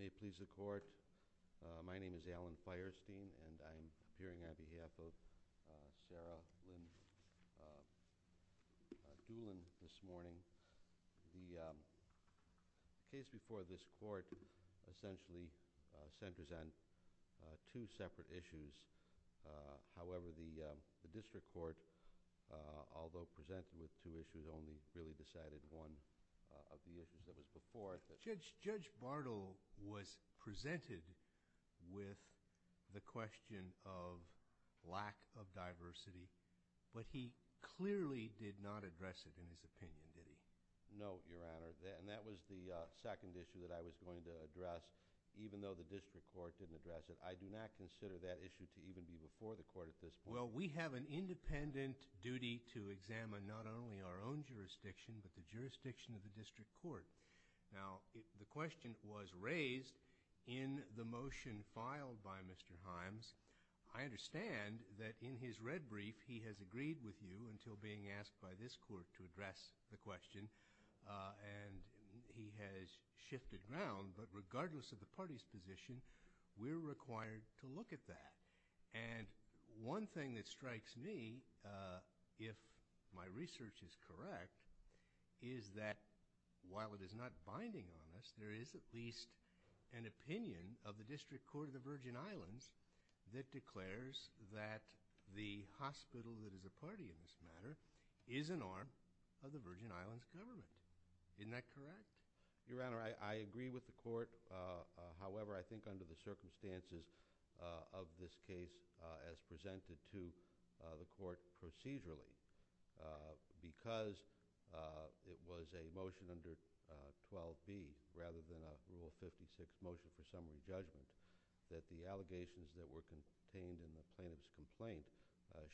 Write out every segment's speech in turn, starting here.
May it please the court, my name is Alan Feierstein, and I'm appearing on behalf of Sarah Lynn Doolin this morning. The case before this court essentially centers on two separate issues. However, the district court, although presented with two issues, only really decided one of the issues of it before. Judge Bartle was presented with the question of lack of diversity, but he clearly did not address it in his opinion, did he? No, Your Honor, and that was the second issue that I was going to address, even though the district court didn't address it. I do not consider that issue to even be before the court at this point. Well, we have an independent duty to examine not only our own jurisdiction, but the jurisdiction of the district court. Now, the question was raised in the motion filed by Mr. Himes. I understand that in his red brief, he has agreed with you until being asked by this court to address the question, and he has shifted ground. But regardless of the party's position, we're required to look at that. And one thing that strikes me, if my research is correct, is that while it is not binding on us, there is at least an opinion of the district court of the Virgin Islands that declares that the hospital that is a party in this matter is an arm of the Virgin Islands government. Isn't that correct? Your Honor, I agree with the court. However, I think under the circumstances of this case as presented to the court procedurally, because it was a motion under 12B rather than a Rule 56 motion for summary judgment, that the allegations that were contained in the plaintiff's complaint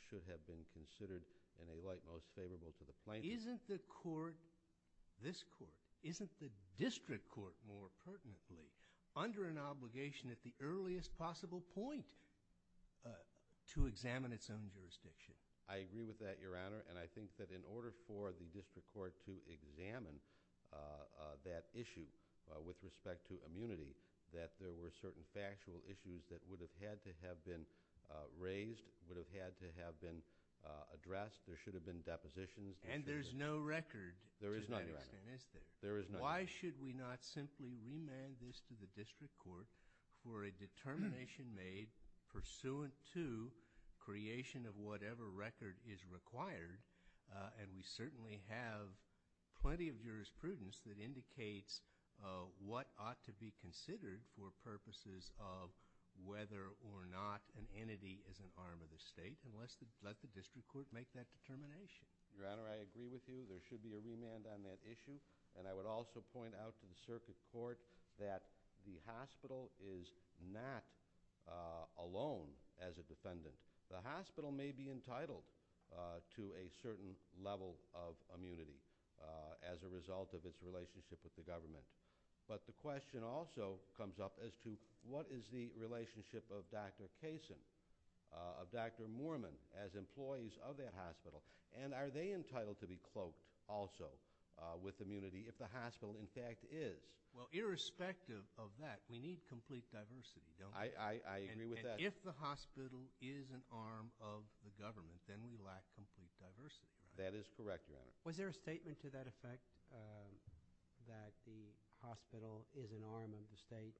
should have been considered in a light most favorable to the plaintiff. Isn't the court, this court, isn't the district court more pertinently under an obligation at the earliest possible point to examine its own jurisdiction? I agree with that, Your Honor, and I think that in order for the district court to examine that issue with respect to immunity, that there were certain factual issues that would have had to have been raised, would have had to have been addressed. There should have been depositions. And there's no record to that extent, is there? There is no record. Why should we not simply remand this to the district court for a determination made pursuant to creation of whatever record is required? And we certainly have plenty of jurisprudence that indicates what ought to be considered for purposes of whether or not an entity is an arm of the state. And let the district court make that determination. Your Honor, I agree with you. There should be a remand on that issue. And I would also point out to the circuit court that the hospital is not alone as a defendant. The hospital may be entitled to a certain level of immunity as a result of its relationship with the government. But the question also comes up as to what is the relationship of Dr. Kaysen, of Dr. Moorman as employees of that hospital, and are they entitled to be cloaked also with immunity if the hospital in fact is? Well, irrespective of that, we need complete diversity, don't we? I agree with that. And if the hospital is an arm of the government, then we lack complete diversity. That is correct, Your Honor. Was there a statement to that effect that the hospital is an arm of the state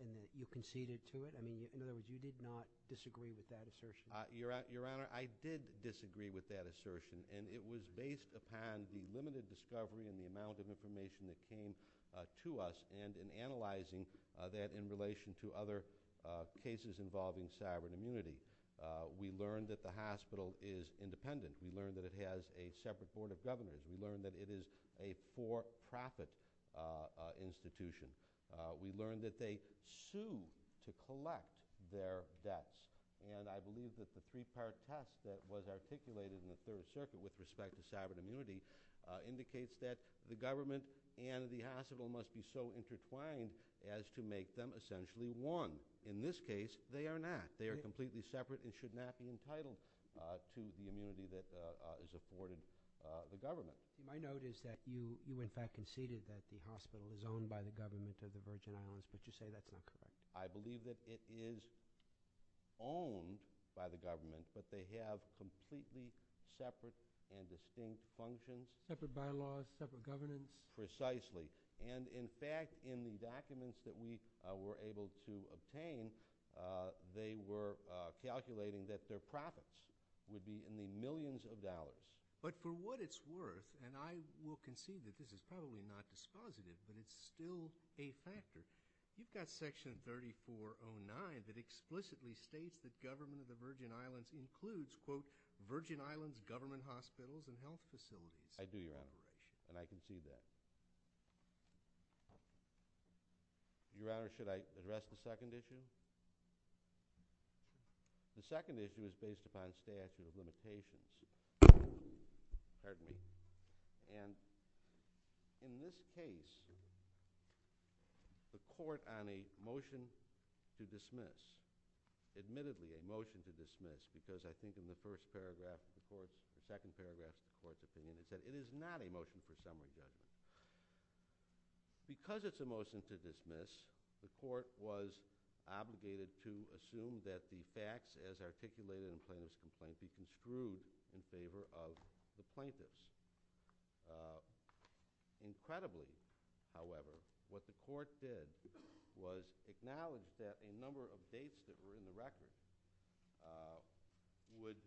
and that you conceded to it? I mean, in other words, you did not disagree with that assertion. Your Honor, I did disagree with that assertion. And it was based upon the limited discovery and the amount of information that came to us and in analyzing that in relation to other cases involving sovereign immunity. We learned that the hospital is independent. We learned that it has a separate board of governors. We learned that it is a for-profit institution. We learned that they sue to collect their debts. And I believe that the three-part test that was articulated in the Third Circuit with respect to sovereign immunity indicates that the government and the hospital must be so intertwined as to make them essentially one. In this case, they are not. They are not separate to the immunity that is afforded the government. My note is that you, in fact, conceded that the hospital is owned by the government of the Virgin Islands, but you say that's not correct. I believe that it is owned by the government, but they have completely separate and distinct functions. Separate bylaws, separate governance? Precisely. And, in fact, in the documents that we were able to obtain, they were calculating that their profits would be in the millions of dollars. But for what it's worth, and I will concede that this is probably not dispositive, but it's still a factor, you've got Section 3409 that explicitly states that government of the Virgin Islands includes, quote, Virgin Islands government hospitals and health facilities. I do, Your Honor, and I concede that. Your Honor, should I address the second issue? The second issue is based upon statute of limitations. Pardon me. And in this case, the court on a motion to dismiss, admittedly a motion to dismiss, because I think in the first paragraph of the court, the second paragraph of the court opinion, it said it is not a motion for summary judgment. Because it's a motion to dismiss, the court was obligated to assume that the facts as articulated in plaintiff's complaint be construed in favor of the plaintiffs. Incredibly, however, what the court did was acknowledge that a number of dates that were in the record would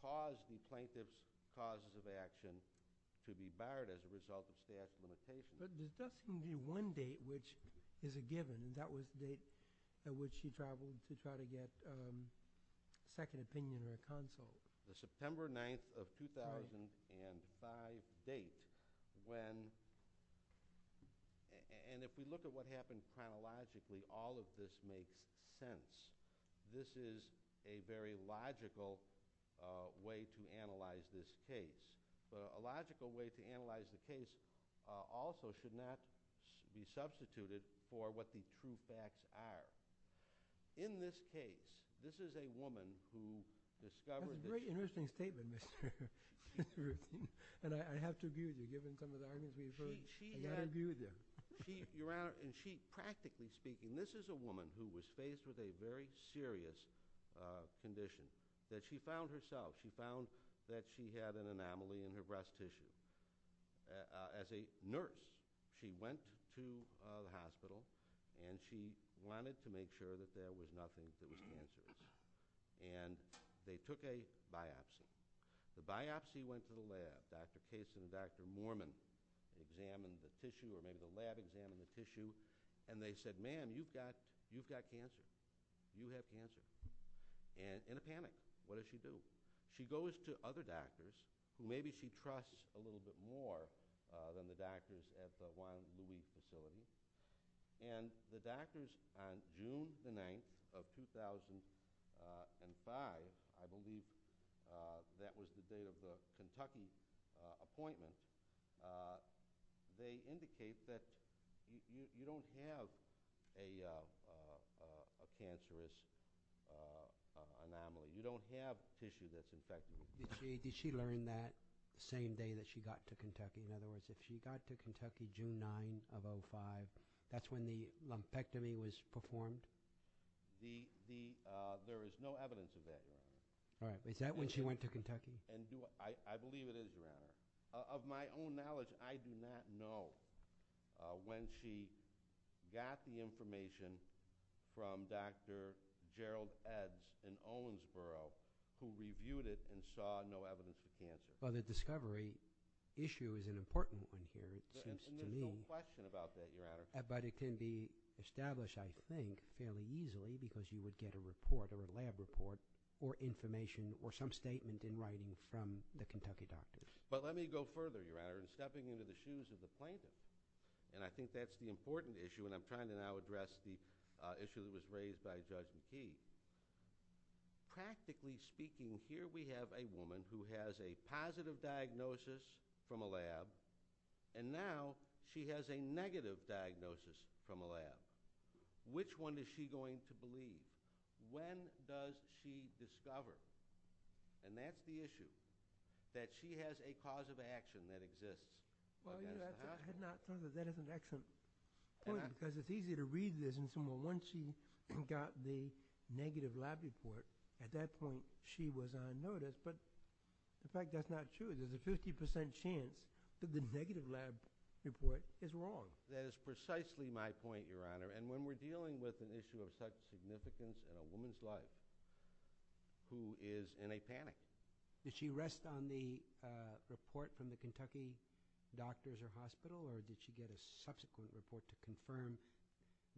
cause the plaintiff's causes of action to be barred as a result of statute of limitations. But there doesn't seem to be one date which is a given, and that was the date at which you traveled to try to get a second opinion in a consult. The September 9th of 2005 date, when – and if we look at what happened chronologically, all of this makes sense. This is a very logical way to analyze this case. But a logical way to analyze the case also should not be substituted for what the true facts are. In this case, this is a woman who discovered that – That's a very interesting statement, Mr. Ruth. And I have to agree with you. Given some of the arguments we've heard, I've got to agree with you. Your Honor, practically speaking, this is a woman who was faced with a very serious condition that she found herself. She found that she had an anomaly in her breast tissue. As a nurse, she went to the hospital and she wanted to make sure that there was nothing to respond to. And they took a biopsy. The biopsy went to the lab. Dr. Case and Dr. Moorman examined the tissue, or maybe the lab examined the tissue, and they said, ma'am, you've got cancer. You have cancer. And in a panic, what does she do? She goes to other doctors, who maybe she trusts a little bit more than the doctors at the Juan Luis facility. And the doctors on June the 9th of 2005, I believe that was the date of the Kentucky appointment, they indicate that you don't have a cancerous anomaly. You don't have tissue that's infected. Did she learn that the same day that she got to Kentucky? In other words, if she got to Kentucky June 9th of 2005, that's when the lumpectomy was performed? There is no evidence of that yet. All right. Is that when she went to Kentucky? I believe it is now. Of my own knowledge, I do not know when she got the information from Dr. Gerald Ebbs in Owensboro, who reviewed it and saw no evidence of cancer. Well, the discovery issue is an important one here, it seems to me. And there's no question about that, Your Honor. But it can be established, I think, fairly easily because you would get a report or a lab report or information or some statement in writing from the Kentucky doctors. But let me go further, Your Honor, in stepping into the shoes of the plaintiff, and I think that's the important issue, and I'm trying to now address the issue that was raised by Judge McKee. Practically speaking, here we have a woman who has a positive diagnosis from a lab, and now she has a negative diagnosis from a lab. Which one is she going to believe? When does she discover? And that's the issue, that she has a cause of action that exists. Well, Your Honor, that is an excellent point because it's easy to read this. Well, once she got the negative lab report, at that point she was on notice. But, in fact, that's not true. There's a 50% chance that the negative lab report is wrong. That is precisely my point, Your Honor. And when we're dealing with an issue of such significance in a woman's life who is in a panic. Did she rest on the report from the Kentucky doctors or hospital, or did she get a subsequent report to confirm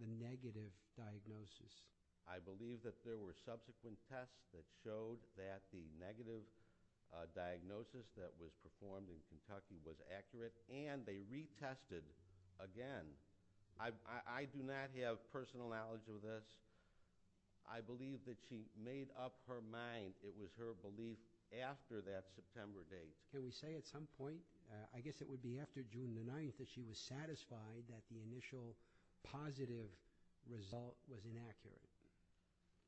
the negative diagnosis? I believe that there were subsequent tests that showed that the negative diagnosis that was performed in Kentucky was accurate, and they retested again. I do not have personal knowledge of this. I believe that she made up her mind. It was her belief after that September date. Can we say at some point, I guess it would be after June the 9th, that she was satisfied that the initial positive result was inaccurate?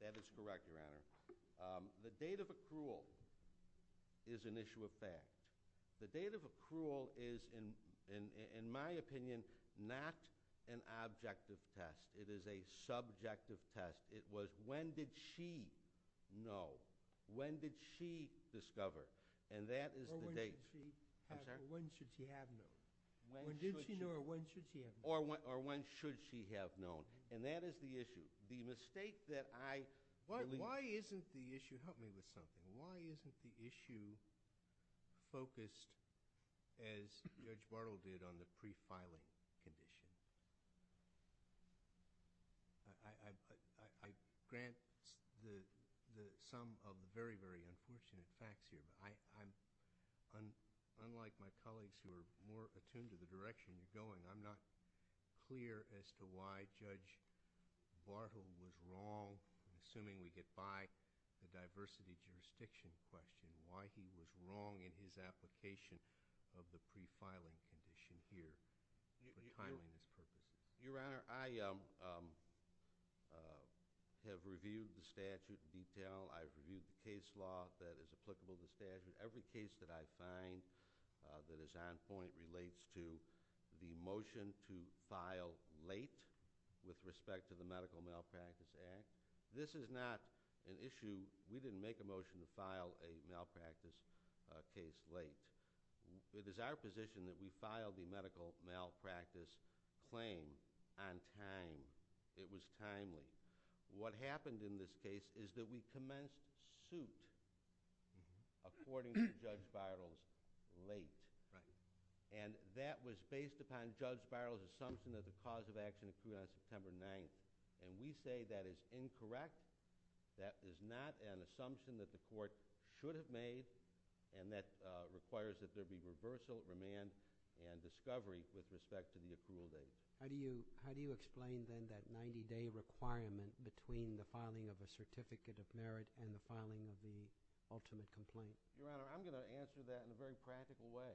That is correct, Your Honor. The date of accrual is an issue of fact. The date of accrual is, in my opinion, not an objective test. It is a subjective test. It was when did she know? When did she discover? And that is the date. I'm sorry? When should she have known? When did she know or when should she have known? Or when should she have known. And that is the issue. The mistake that I believe. Why isn't the issue, help me with something, why isn't the issue focused as Judge Bartle did on the pre-filing condition? I grant the sum of very, very unfortunate facts here. Unlike my colleagues who are more attuned to the direction we're going, I'm not clear as to why Judge Bartle was wrong, assuming we get by the diversity jurisdiction question, why he was wrong in his application of the pre-filing condition here. Your Honor, I have reviewed the statute in detail. I've reviewed the case law that is applicable to the statute. Every case that I find that is on point relates to the motion to file late with respect to the Medical Malpractice Act. This is not an issue. We didn't make a motion to file a malpractice case late. It is our position that we filed the medical malpractice claim on time. It was timely. What happened in this case is that we commenced suit, according to Judge Bartle, late. And that was based upon Judge Bartle's assumption that the cause of action was due on September 9th. And we say that is incorrect. That is not an assumption that the Court should have made, and that requires that there be reversal, remand, and discovery with respect to the appeal date. How do you explain, then, that 90-day requirement between the filing of a Certificate of Merit and the filing of the ultimate complaint? Your Honor, I'm going to answer that in a very practical way,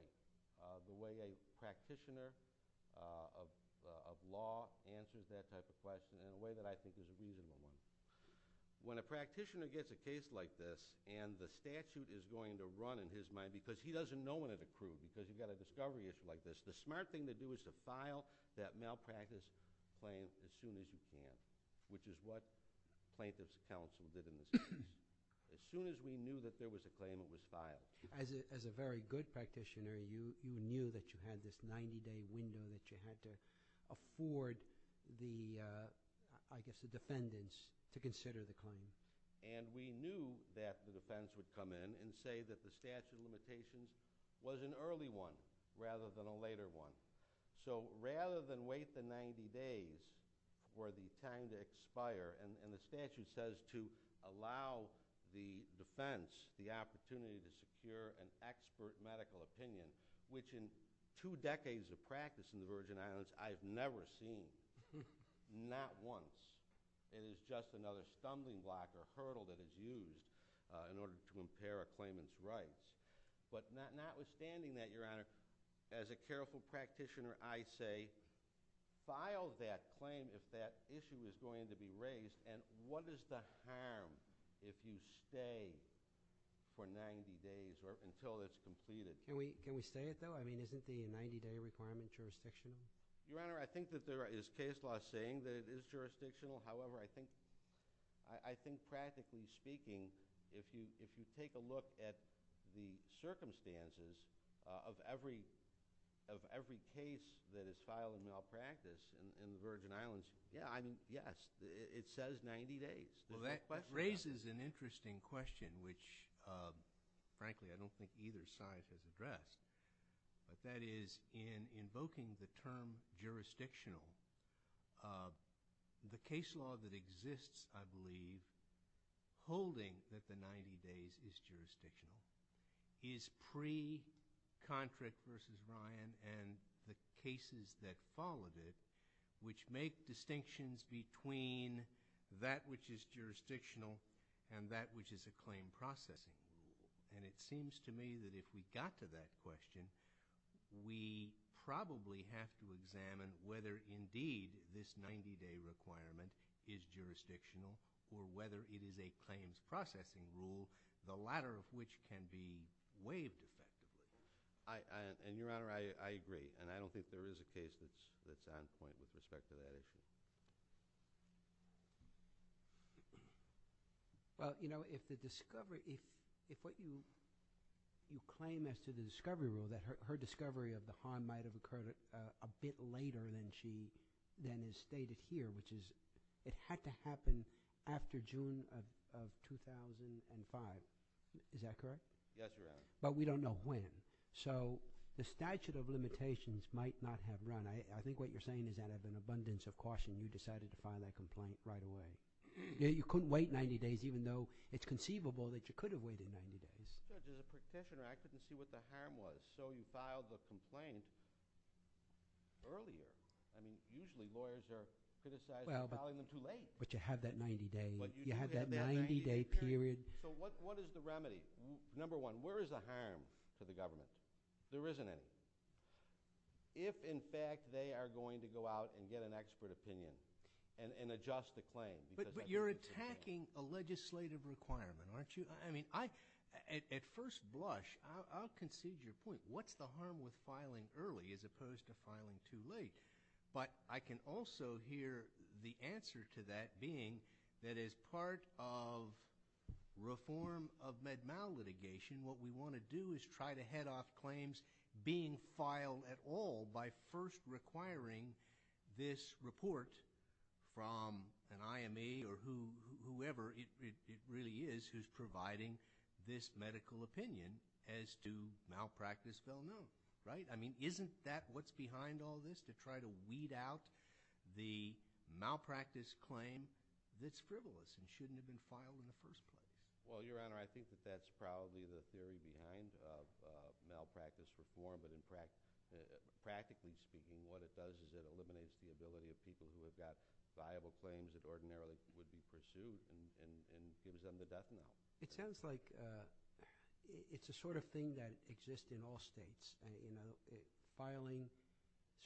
the way a practitioner of law answers that type of question in a way that I think is reasonable. When a practitioner gets a case like this and the statute is going to run in his mind, because he doesn't know when it accrued, because he's got a discovery issue like this, the smart thing to do is to file that malpractice claim as soon as you can, which is what plaintiff's counsel did in this case. As soon as we knew that there was a claim that was filed. As a very good practitioner, you knew that you had this 90-day window that you had to afford the defendants to consider the claim. We knew that the defense would come in and say that the statute of limitations was an early one rather than a later one. Rather than wait the 90 days for the time to expire, and the statute says to allow the defense the opportunity to secure an expert medical opinion, which in two decades of practice in the Virgin Islands, I've never seen, not once. It is just another stumbling block or hurdle that is used in order to impair a claimant's rights. But notwithstanding that, Your Honor, as a careful practitioner, I say file that claim if that issue is going to be raised, and what is the harm if you stay for 90 days or until it's completed? Can we stay it though? I mean, isn't the 90-day requirement jurisdictional? Your Honor, I think that there is case law saying that it is jurisdictional. However, I think practically speaking if you take a look at the circumstances of every case that is filed in malpractice in the Virgin Islands, yes, it says 90 days. Well, that raises an interesting question, which frankly I don't think either side has addressed. That is, in invoking the term jurisdictional, the case law that exists, I believe, holding that the 90 days is jurisdictional, is pre-Contract v. Bryan and the cases that followed it, which make distinctions between that which is jurisdictional and that which is a claim processing. And it seems to me that if we got to that question, we probably have to examine whether indeed this 90-day requirement is jurisdictional or whether it is a claims processing rule, the latter of which can be waived effectively. And, Your Honor, I agree. And I don't think there is a case that's on point with respect to that issue. Well, you know, if the discovery – if what you claim as to the discovery rule, that her discovery of the harm might have occurred a bit later than she – than is stated here, which is it had to happen after June of 2005. Is that correct? Yes, Your Honor. But we don't know when. So the statute of limitations might not have run. I think what you're saying is that of an abundance of caution, you decided to file that complaint right away. You couldn't wait 90 days, even though it's conceivable that you could have waited 90 days. There's a petitioner. I couldn't see what the harm was. So you filed the complaint earlier. I mean, usually lawyers are criticized for filing them too late. But you have that 90-day period. So what is the remedy? Number one, where is the harm to the government? There isn't any. If, in fact, they are going to go out and get an expert opinion and adjust the claim. But you're attacking a legislative requirement, aren't you? I mean, at first blush, I'll concede your point. What's the harm with filing early as opposed to filing too late? But I can also hear the answer to that being that as part of reform of Med-Mal litigation, what we want to do is try to head off claims being filed at all by first requiring this report from an IME or whoever it really is who's providing this medical opinion as to malpractice well known, right? I mean, isn't that what's behind all this, to try to weed out the malpractice claim that's frivolous and shouldn't have been filed in the first place? Well, Your Honor, I think that that's probably the theory behind malpractice reform. But practically speaking, what it does is it eliminates the ability of people who have got viable claims that ordinarily wouldn't be pursued and gives them the death penalty. It sounds like it's the sort of thing that exists in all states. Filing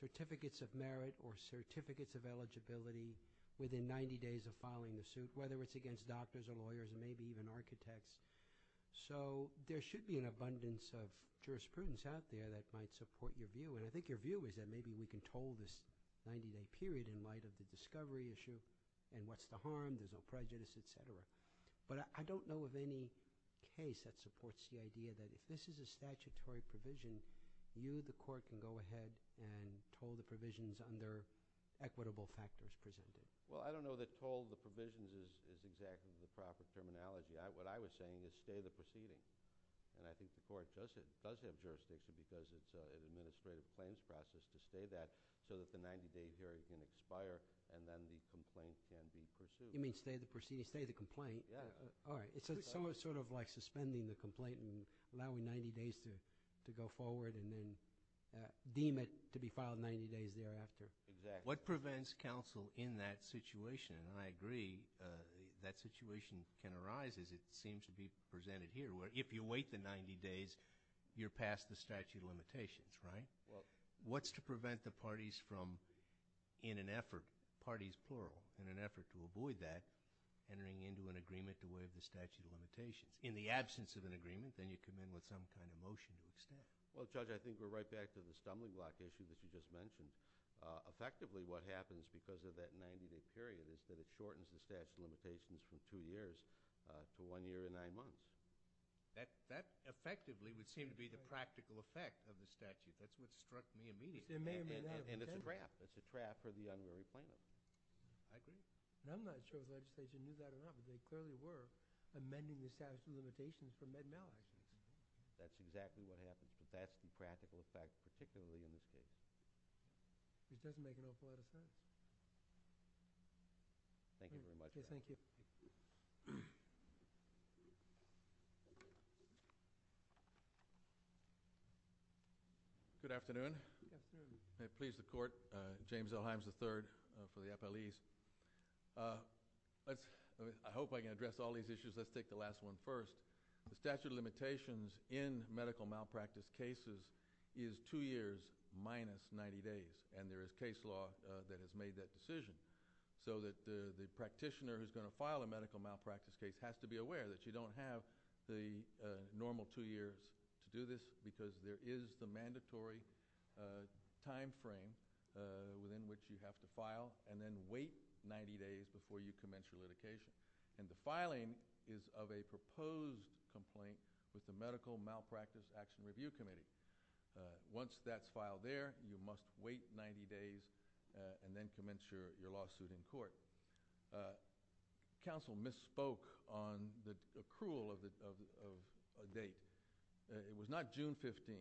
certificates of merit or certificates of eligibility within 90 days of filing the suit, whether it's against doctors or lawyers and maybe even architects. So there should be an abundance of jurisprudence out there that might support your view. And I think your view is that maybe we can toll this 90-day period in light of the discovery issue and what's the harm, there's no prejudice, et cetera. But I don't know of any case that supports the idea that if this is a statutory provision, under equitable factors, presumably. Well, I don't know that toll the provisions is exactly the proper terminology. What I was saying is stay the proceedings. And I think the court does have jurisdiction because it's an administrative claims process to stay that so that the 90-day hearing can expire and then the complaint can be pursued. You mean stay the proceedings, stay the complaint? Yeah. All right. So it's sort of like suspending the complaint and allowing 90 days to go forward and then deem it to be filed 90 days thereafter. Exactly. What prevents counsel in that situation? And I agree that situation can arise as it seems to be presented here where if you wait the 90 days, you're past the statute of limitations, right? What's to prevent the parties from in an effort, parties plural, in an effort to avoid that entering into an agreement to waive the statute of limitations? In the absence of an agreement, then you come in with some kind of motion to extend. Well, Judge, I think we're right back to the stumbling block issue that you just mentioned. Effectively what happens because of that 90-day period is that it shortens the statute of limitations from two years to one year and nine months. That effectively would seem to be the practical effect of the statute. That's what struck me immediately. And it's a trap. It's a trap for the unruly plaintiff. I think. None of the other legislation knew that enough. They clearly were amending the statute of limitations from then on. That's exactly what happens. That's the practical effect, particularly in this case. It doesn't make a lot of sense. Thank you very much. Thank you. Good afternoon. Good afternoon. May it please the Court, James L. Himes III for the FLEs. I hope I can address all these issues. Let's take the last one first. The statute of limitations in medical malpractice cases is two years minus 90 days, and there is case law that has made that decision so that the practitioner who is going to file a medical malpractice case has to be aware that you don't have the normal two years to do this because there is the mandatory time frame within which you have to file and then wait 90 days before you commence your litigation. And the filing is of a proposed complaint with the Medical Malpractice Action Review Committee. Once that's filed there, you must wait 90 days and then commence your lawsuit in court. Counsel misspoke on the accrual of a date. It was not June 15.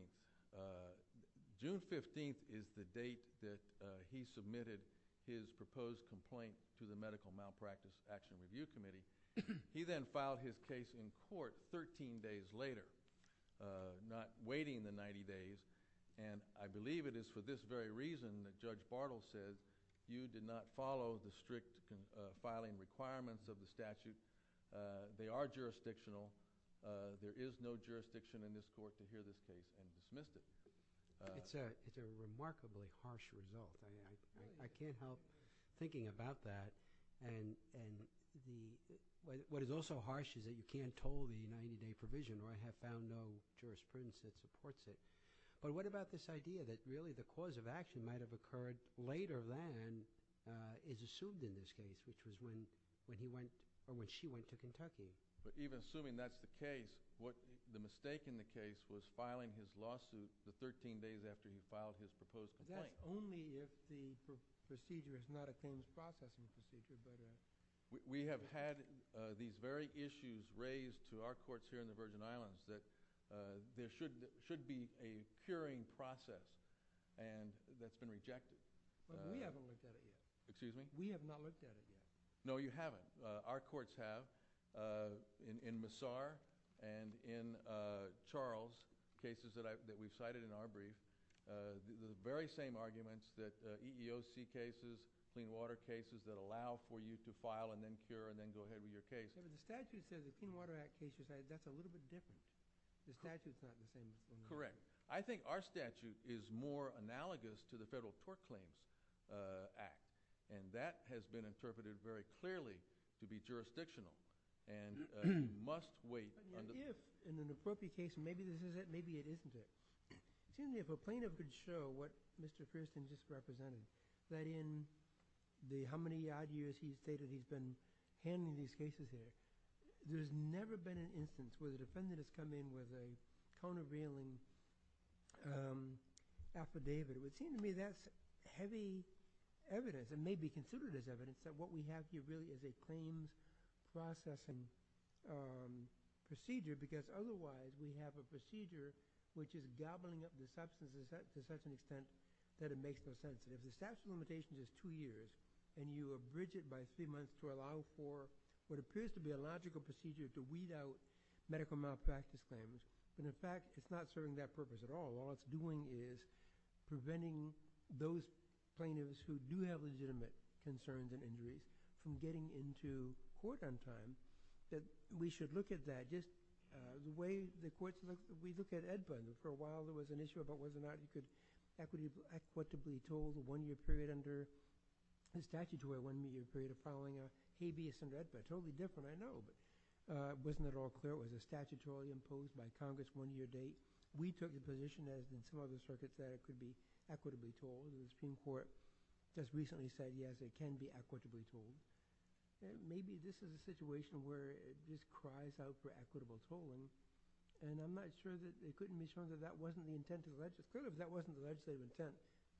June 15 is the date that he submitted his proposed complaint to the Medical Malpractice Action Review Committee. He then filed his case in court 13 days later, not waiting the 90 days, and I believe it is for this very reason that Judge Bartle says you did not follow the strict filing requirements of the statute. They are jurisdictional. There is no jurisdiction in this Court to hear this case and dismiss it. It's a remarkably harsh result. I can't help thinking about that. What is also harsh is that you can't toll the 90-day provision or I have found no jurisprudence that supports it. But what about this idea that really the cause of action might have occurred later than is assumed in this case, which was when she went to Kentucky? But even assuming that's the case, the mistake in the case was filing his lawsuit the 13 days after he filed his proposed complaint. But that's only if the procedure is not a case processing procedure. We have had these very issues raised to our courts here in the Virgin Islands that there should be a curing process that's been rejected. But we haven't looked at it yet. Excuse me? We have not looked at it yet. No, you haven't. Our courts have in Massar and in Charles, cases that we've cited in our brief. The very same arguments that EEOC cases, clean water cases that allow for you to file and then cure and then go ahead with your case. But if the statute says the Clean Water Act cases, that's a little bit different. The statute's not the same. Correct. I think our statute is more analogous to the Federal Tort Claims Act, and that has been interpreted very clearly to be jurisdictional and must wait. But what if in an appropriate case, maybe this is it, maybe it isn't it? It seems to me if a plaintiff could show what Mr. Kirsten just represented, that in how many odd years he's stated he's been handling these cases here, there's never been an instance where the defendant has come in with a cone of reeling affidavit. It would seem to me that's heavy evidence and may be considered as evidence that what we have here really is a claims processing procedure because otherwise we have a procedure which is gobbling up the substance to such an extent that it makes no sense. If the statute of limitations is two years and you abridge it by three months to allow for what appears to be a logical procedure to weed out medical malpractice claims, then in fact it's not serving that purpose at all. All it's doing is preventing those plaintiffs who do have legitimate concerns and injuries from getting into court on time. We should look at that. The way the courts look, we look at EDPA. For a while there was an issue about whether or not it could be equitably told in a one-year period under the statutory one-year period of filing a habeas under EDPA. Totally different, I know, but it wasn't at all clear. It was a statutory imposed by Congress one-year date. We took the position, as did some other circuits, that it could be equitably told. The Supreme Court just recently said yes, it can be equitably told. Maybe this is a situation where it just cries out for equitable tolling. I'm not sure that it couldn't be shown that that wasn't the intent of the legislature. If that wasn't the legislative intent,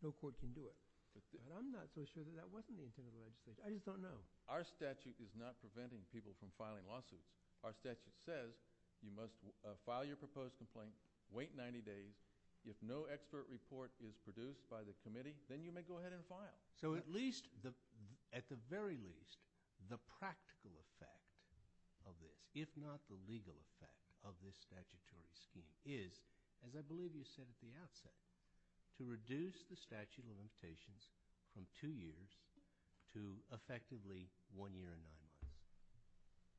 no court can do it. I'm not so sure that that wasn't the intent of the legislature. I just don't know. Our statute is not preventing people from filing lawsuits. Our statute says you must file your proposed complaint, wait 90 days. If no expert report is produced by the committee, then you may go ahead and file. At the very least, the practical effect of this, if not the legal effect of this statutory scheme, is, as I believe you said at the outset, to reduce the statute of limitations from two years to effectively one year and nine months.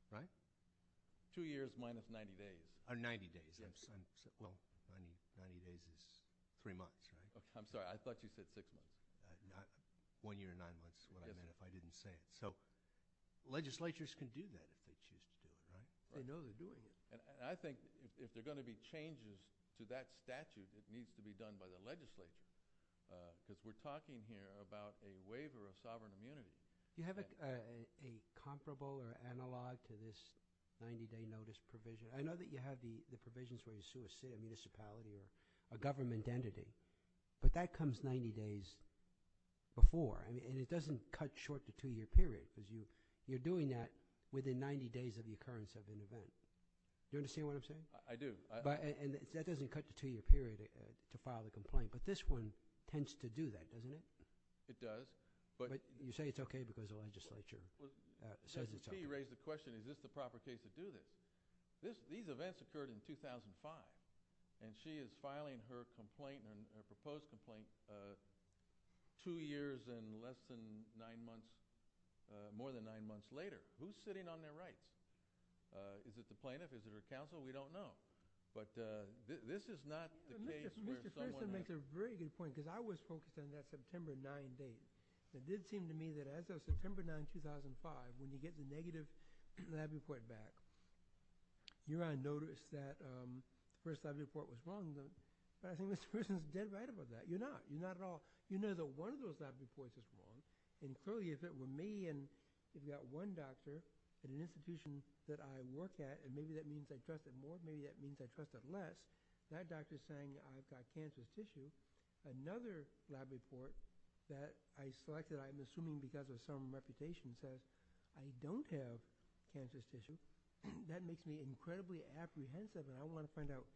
Right? Two years minus 90 days. 90 days. 90 days is three months. I'm sorry. I thought you said six months. One year and nine months is what I meant if I didn't say it. So legislatures can do that if they choose to, right? They know they're doing it. And I think if there are going to be changes to that statute, it needs to be done by the legislature, because we're talking here about a waiver of sovereign immunity. Do you have a comparable or analog to this 90-day notice provision? I know that you have the provisions where you sue a city, a municipality, or a government entity, but that comes 90 days before, and it doesn't cut short the two-year period, because you're doing that within 90 days of the occurrence of an event. Do you understand what I'm saying? I do. And that doesn't cut the two-year period to file the complaint, but this one tends to do that, doesn't it? It does. But you say it's okay because the legislature says it's okay. You raised the question, is this the proper case to do this? These events occurred in 2005, and she is filing her complaint, her proposed complaint, two years and less than nine months, more than nine months later. Who's sitting on their rights? Is it the plaintiff? Is it her counsel? We don't know. But this is not the case where someone has to. Mr. Thurston makes a very good point, because I was focused on that September 9 date. It did seem to me that as of September 9, 2005, when you get the negative lab report back, you're going to notice that the first lab report was wrong. But I think Mr. Thurston is dead right about that. You're not. You're not at all. You know that one of those lab reports was wrong, and clearly if it were me and we've got one doctor in an institution that I work at, and maybe that means I trust it more, maybe that means I trust it less. That doctor is saying I've got cancerous tissues. Another lab report that I selected, I'm assuming because of some reputation, says I don't have cancerous tissues. That makes me incredibly apprehensive, and I want to find out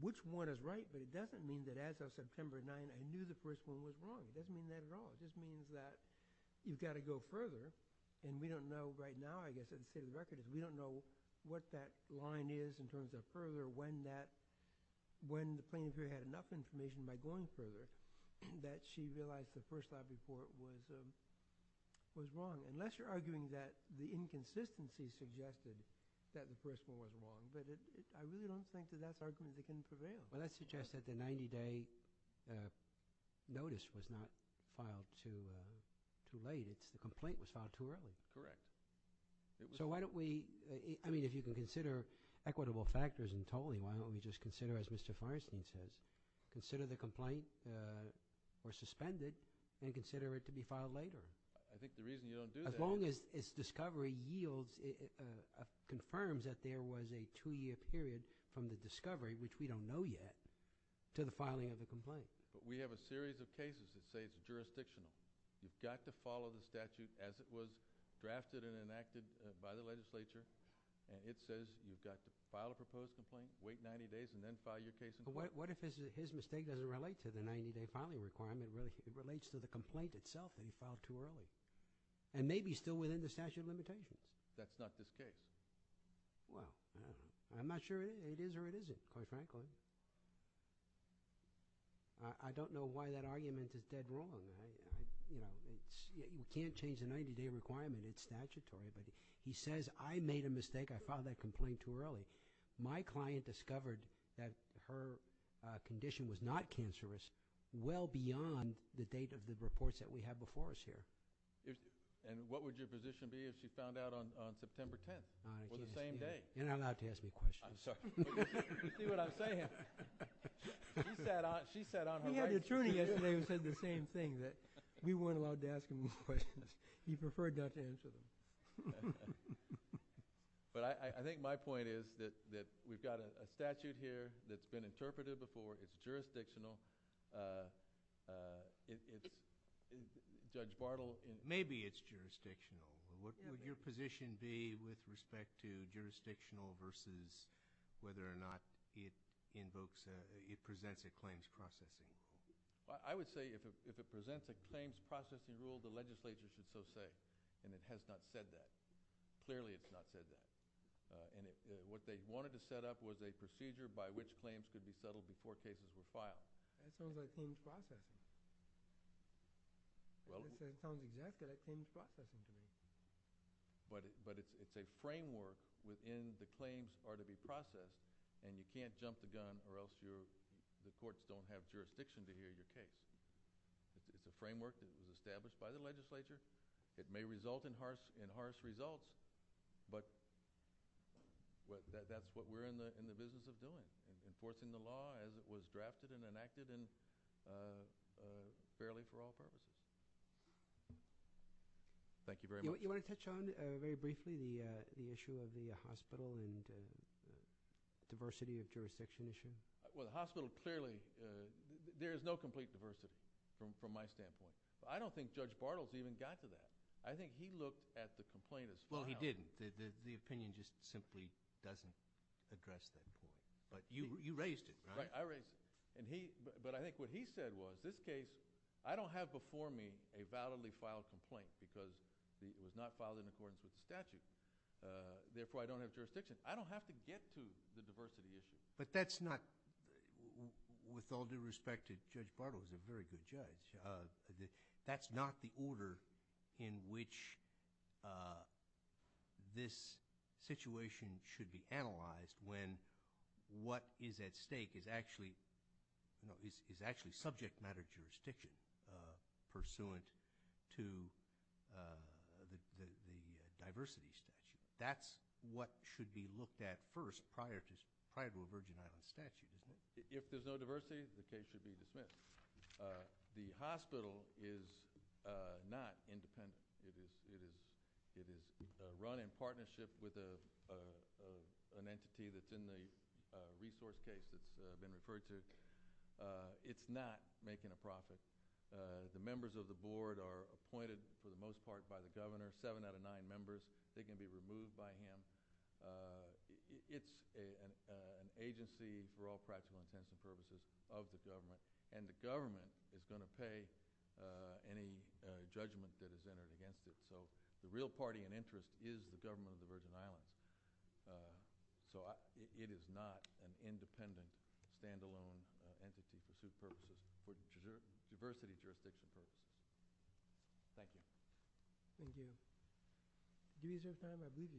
which one is right, but it doesn't mean that as of September 9 I knew the first one was wrong. It doesn't mean that at all. It just means that you've got to go further, and we don't know right now, I guess, at the state of the record, we don't know what that line is in terms of further, when the plaintiff had enough information by going further that she realized the first lab report was wrong. Unless you're arguing that the inconsistency suggested that the first one was wrong, but I really don't think that that's argument that can prevail. Well, that suggests that the 90-day notice was not filed too late. The complaint was filed too early. Correct. So why don't we – I mean if you can consider equitable factors in tolling, why don't we just consider, as Mr. Feinstein says, consider the complaint was suspended and consider it to be filed later? I think the reason you don't do that is – As long as discovery yields, confirms that there was a two-year period from the discovery, which we don't know yet, to the filing of the complaint. But we have a series of cases that say it's jurisdictional. You've got to follow the statute as it was drafted and enacted by the legislature, and it says you've got to file a proposed complaint, wait 90 days, and then file your case in court. But what if his mistake doesn't relate to the 90-day filing requirement? What if it relates to the complaint itself and you filed too early and maybe still within the statute of limitations? That's not this case. Well, I'm not sure it is or it isn't, quite frankly. I don't know why that argument is dead wrong. You can't change the 90-day requirement. It's statutory, but he says I made a mistake. I filed that complaint too early. My client discovered that her condition was not cancerous well beyond the date of the reports that we have before us here. And what would your position be if she found out on September 10th or the same day? You're not allowed to ask me questions. I'm sorry. You see what I'm saying? She sat on her right. We had the attorney yesterday who said the same thing, that we weren't allowed to ask him any questions. He preferred not to answer them. But I think my point is that we've got a statute here that's been interpreted before. It's jurisdictional. Judge Bartle. Maybe it's jurisdictional. What would your position be with respect to jurisdictional versus whether or not it invokes, it presents a claims processing rule? I would say if it presents a claims processing rule, the legislature should so say. And it has not said that. Clearly it's not said that. What they wanted to set up was a procedure by which claims could be settled before cases were filed. That sounds like claims processing. That sounds exactly like claims processing to me. But it's a framework within the claims are to be processed, and you can't jump the gun or else the courts don't have jurisdiction to hear your case. It's a framework that was established by the legislature. It may result in harsh results. But that's what we're in the business of doing, enforcing the law as it was drafted and enacted and fairly for all purposes. Thank you very much. You want to touch on very briefly the issue of the hospital and diversity of jurisdiction issue? Well, the hospital clearly – there is no complete diversity from my standpoint. I don't think Judge Bartle's even got to that. I think he looked at the complaint as filed. Well, he didn't. The opinion just simply doesn't address that. But you raised it, right? Right. I raised it. But I think what he said was this case, I don't have before me a validly filed complaint because it was not filed in accordance with the statute. Therefore, I don't have jurisdiction. I don't have to get to the diversity issue. But that's not – with all due respect to Judge Bartle, who's a very good judge, that's not the order in which this situation should be analyzed when what is at stake is actually subject matter jurisdiction pursuant to the diversity statute. That's what should be looked at first prior to a Virgin Islands statute. If there's no diversity, the case should be dismissed. The hospital is not independent. It is run in partnership with an entity that's in the resource case that's been referred to. It's not making a profit. The members of the board are appointed for the most part by the governor, seven out of nine members. They can be removed by him. It's an agency for all practical intents and purposes of the government, and the government is going to pay any judgment that is entered against it. So the real party and interest is the government of the Virgin Islands. So it is not an independent, stand-alone entity for suit purposes for the diversity jurisdiction case. Thank you. Thank you. Do we have time for a briefing?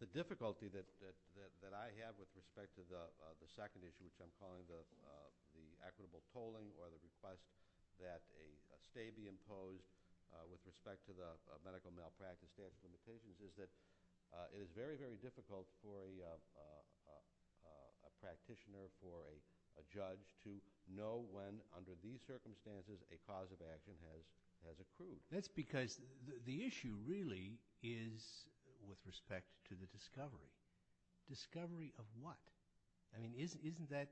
The difficulty that I have with respect to the second issue, which I'm calling the equitable polling, or the request that a stay be imposed with respect to the medical malpractice statute limitations, is that it is very, very difficult for a practitioner, for a judge, to know when, under these circumstances, a cause of action has accrued. That's because the issue really is with respect to the discovery. Discovery of what? I mean, isn't that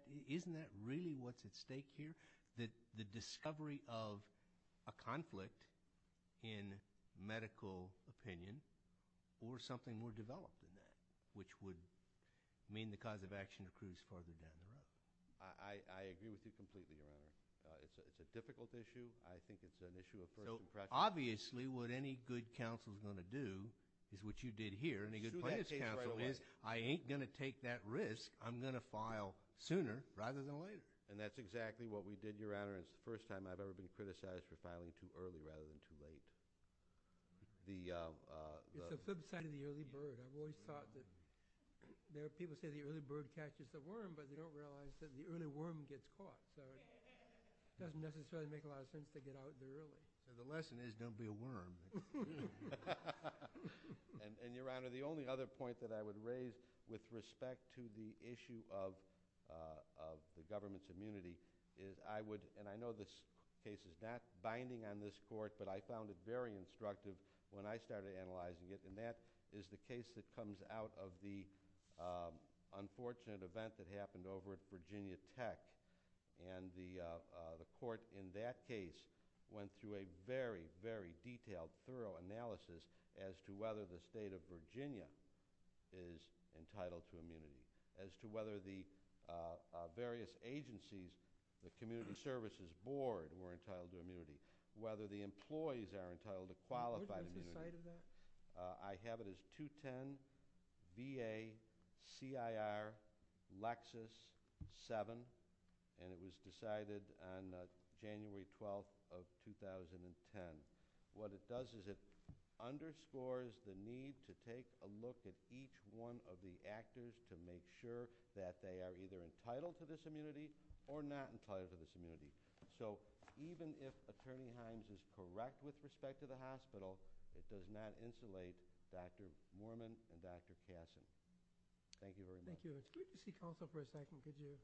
really what's at stake here, that the discovery of a conflict in medical opinion or something more developed than that, which would mean the cause of action accrues further down the line? I agree with you completely on that. It's a difficult issue. I think it's an issue of personal practice. Obviously, what any good counsel is going to do is what you did here, and a good plaintiff's counsel is, I ain't going to take that risk. I'm going to file sooner rather than later. That's exactly what we did, Your Honor. It's the first time I've ever been criticized for filing too early rather than too late. It's the flip side of the early bird. I've always thought that people say the early bird catches the worm, but they don't realize that the early worm gets caught. It doesn't necessarily make a lot of sense to get out there early. The lesson is don't be a worm. Your Honor, the only other point that I would raise with respect to the issue of the government's immunity is I would, and I know this case is not binding on this court, but I found it very instructive when I started analyzing it, and that is the case that comes out of the unfortunate event that happened over at Virginia Tech. The court in that case went through a very, very detailed, thorough analysis as to whether the state of Virginia is entitled to immunity, as to whether the various agencies, the Community Services Board were entitled to immunity, whether the employees are entitled to qualified immunity. Were you at the site of that? I have it as 210-VA-CIR-Lexis-7, and it was decided on January 12th of 2010. What it does is it underscores the need to take a look at each one of the actors to make sure that they are either entitled to this immunity or not entitled to this immunity. So even if Attorney Hines is correct with respect to the hospital, it does not insulate Drs. Moorman and Drs. Cassidy. Thank you very much. Thank you. Excuse me, counsel, for a second. Did you?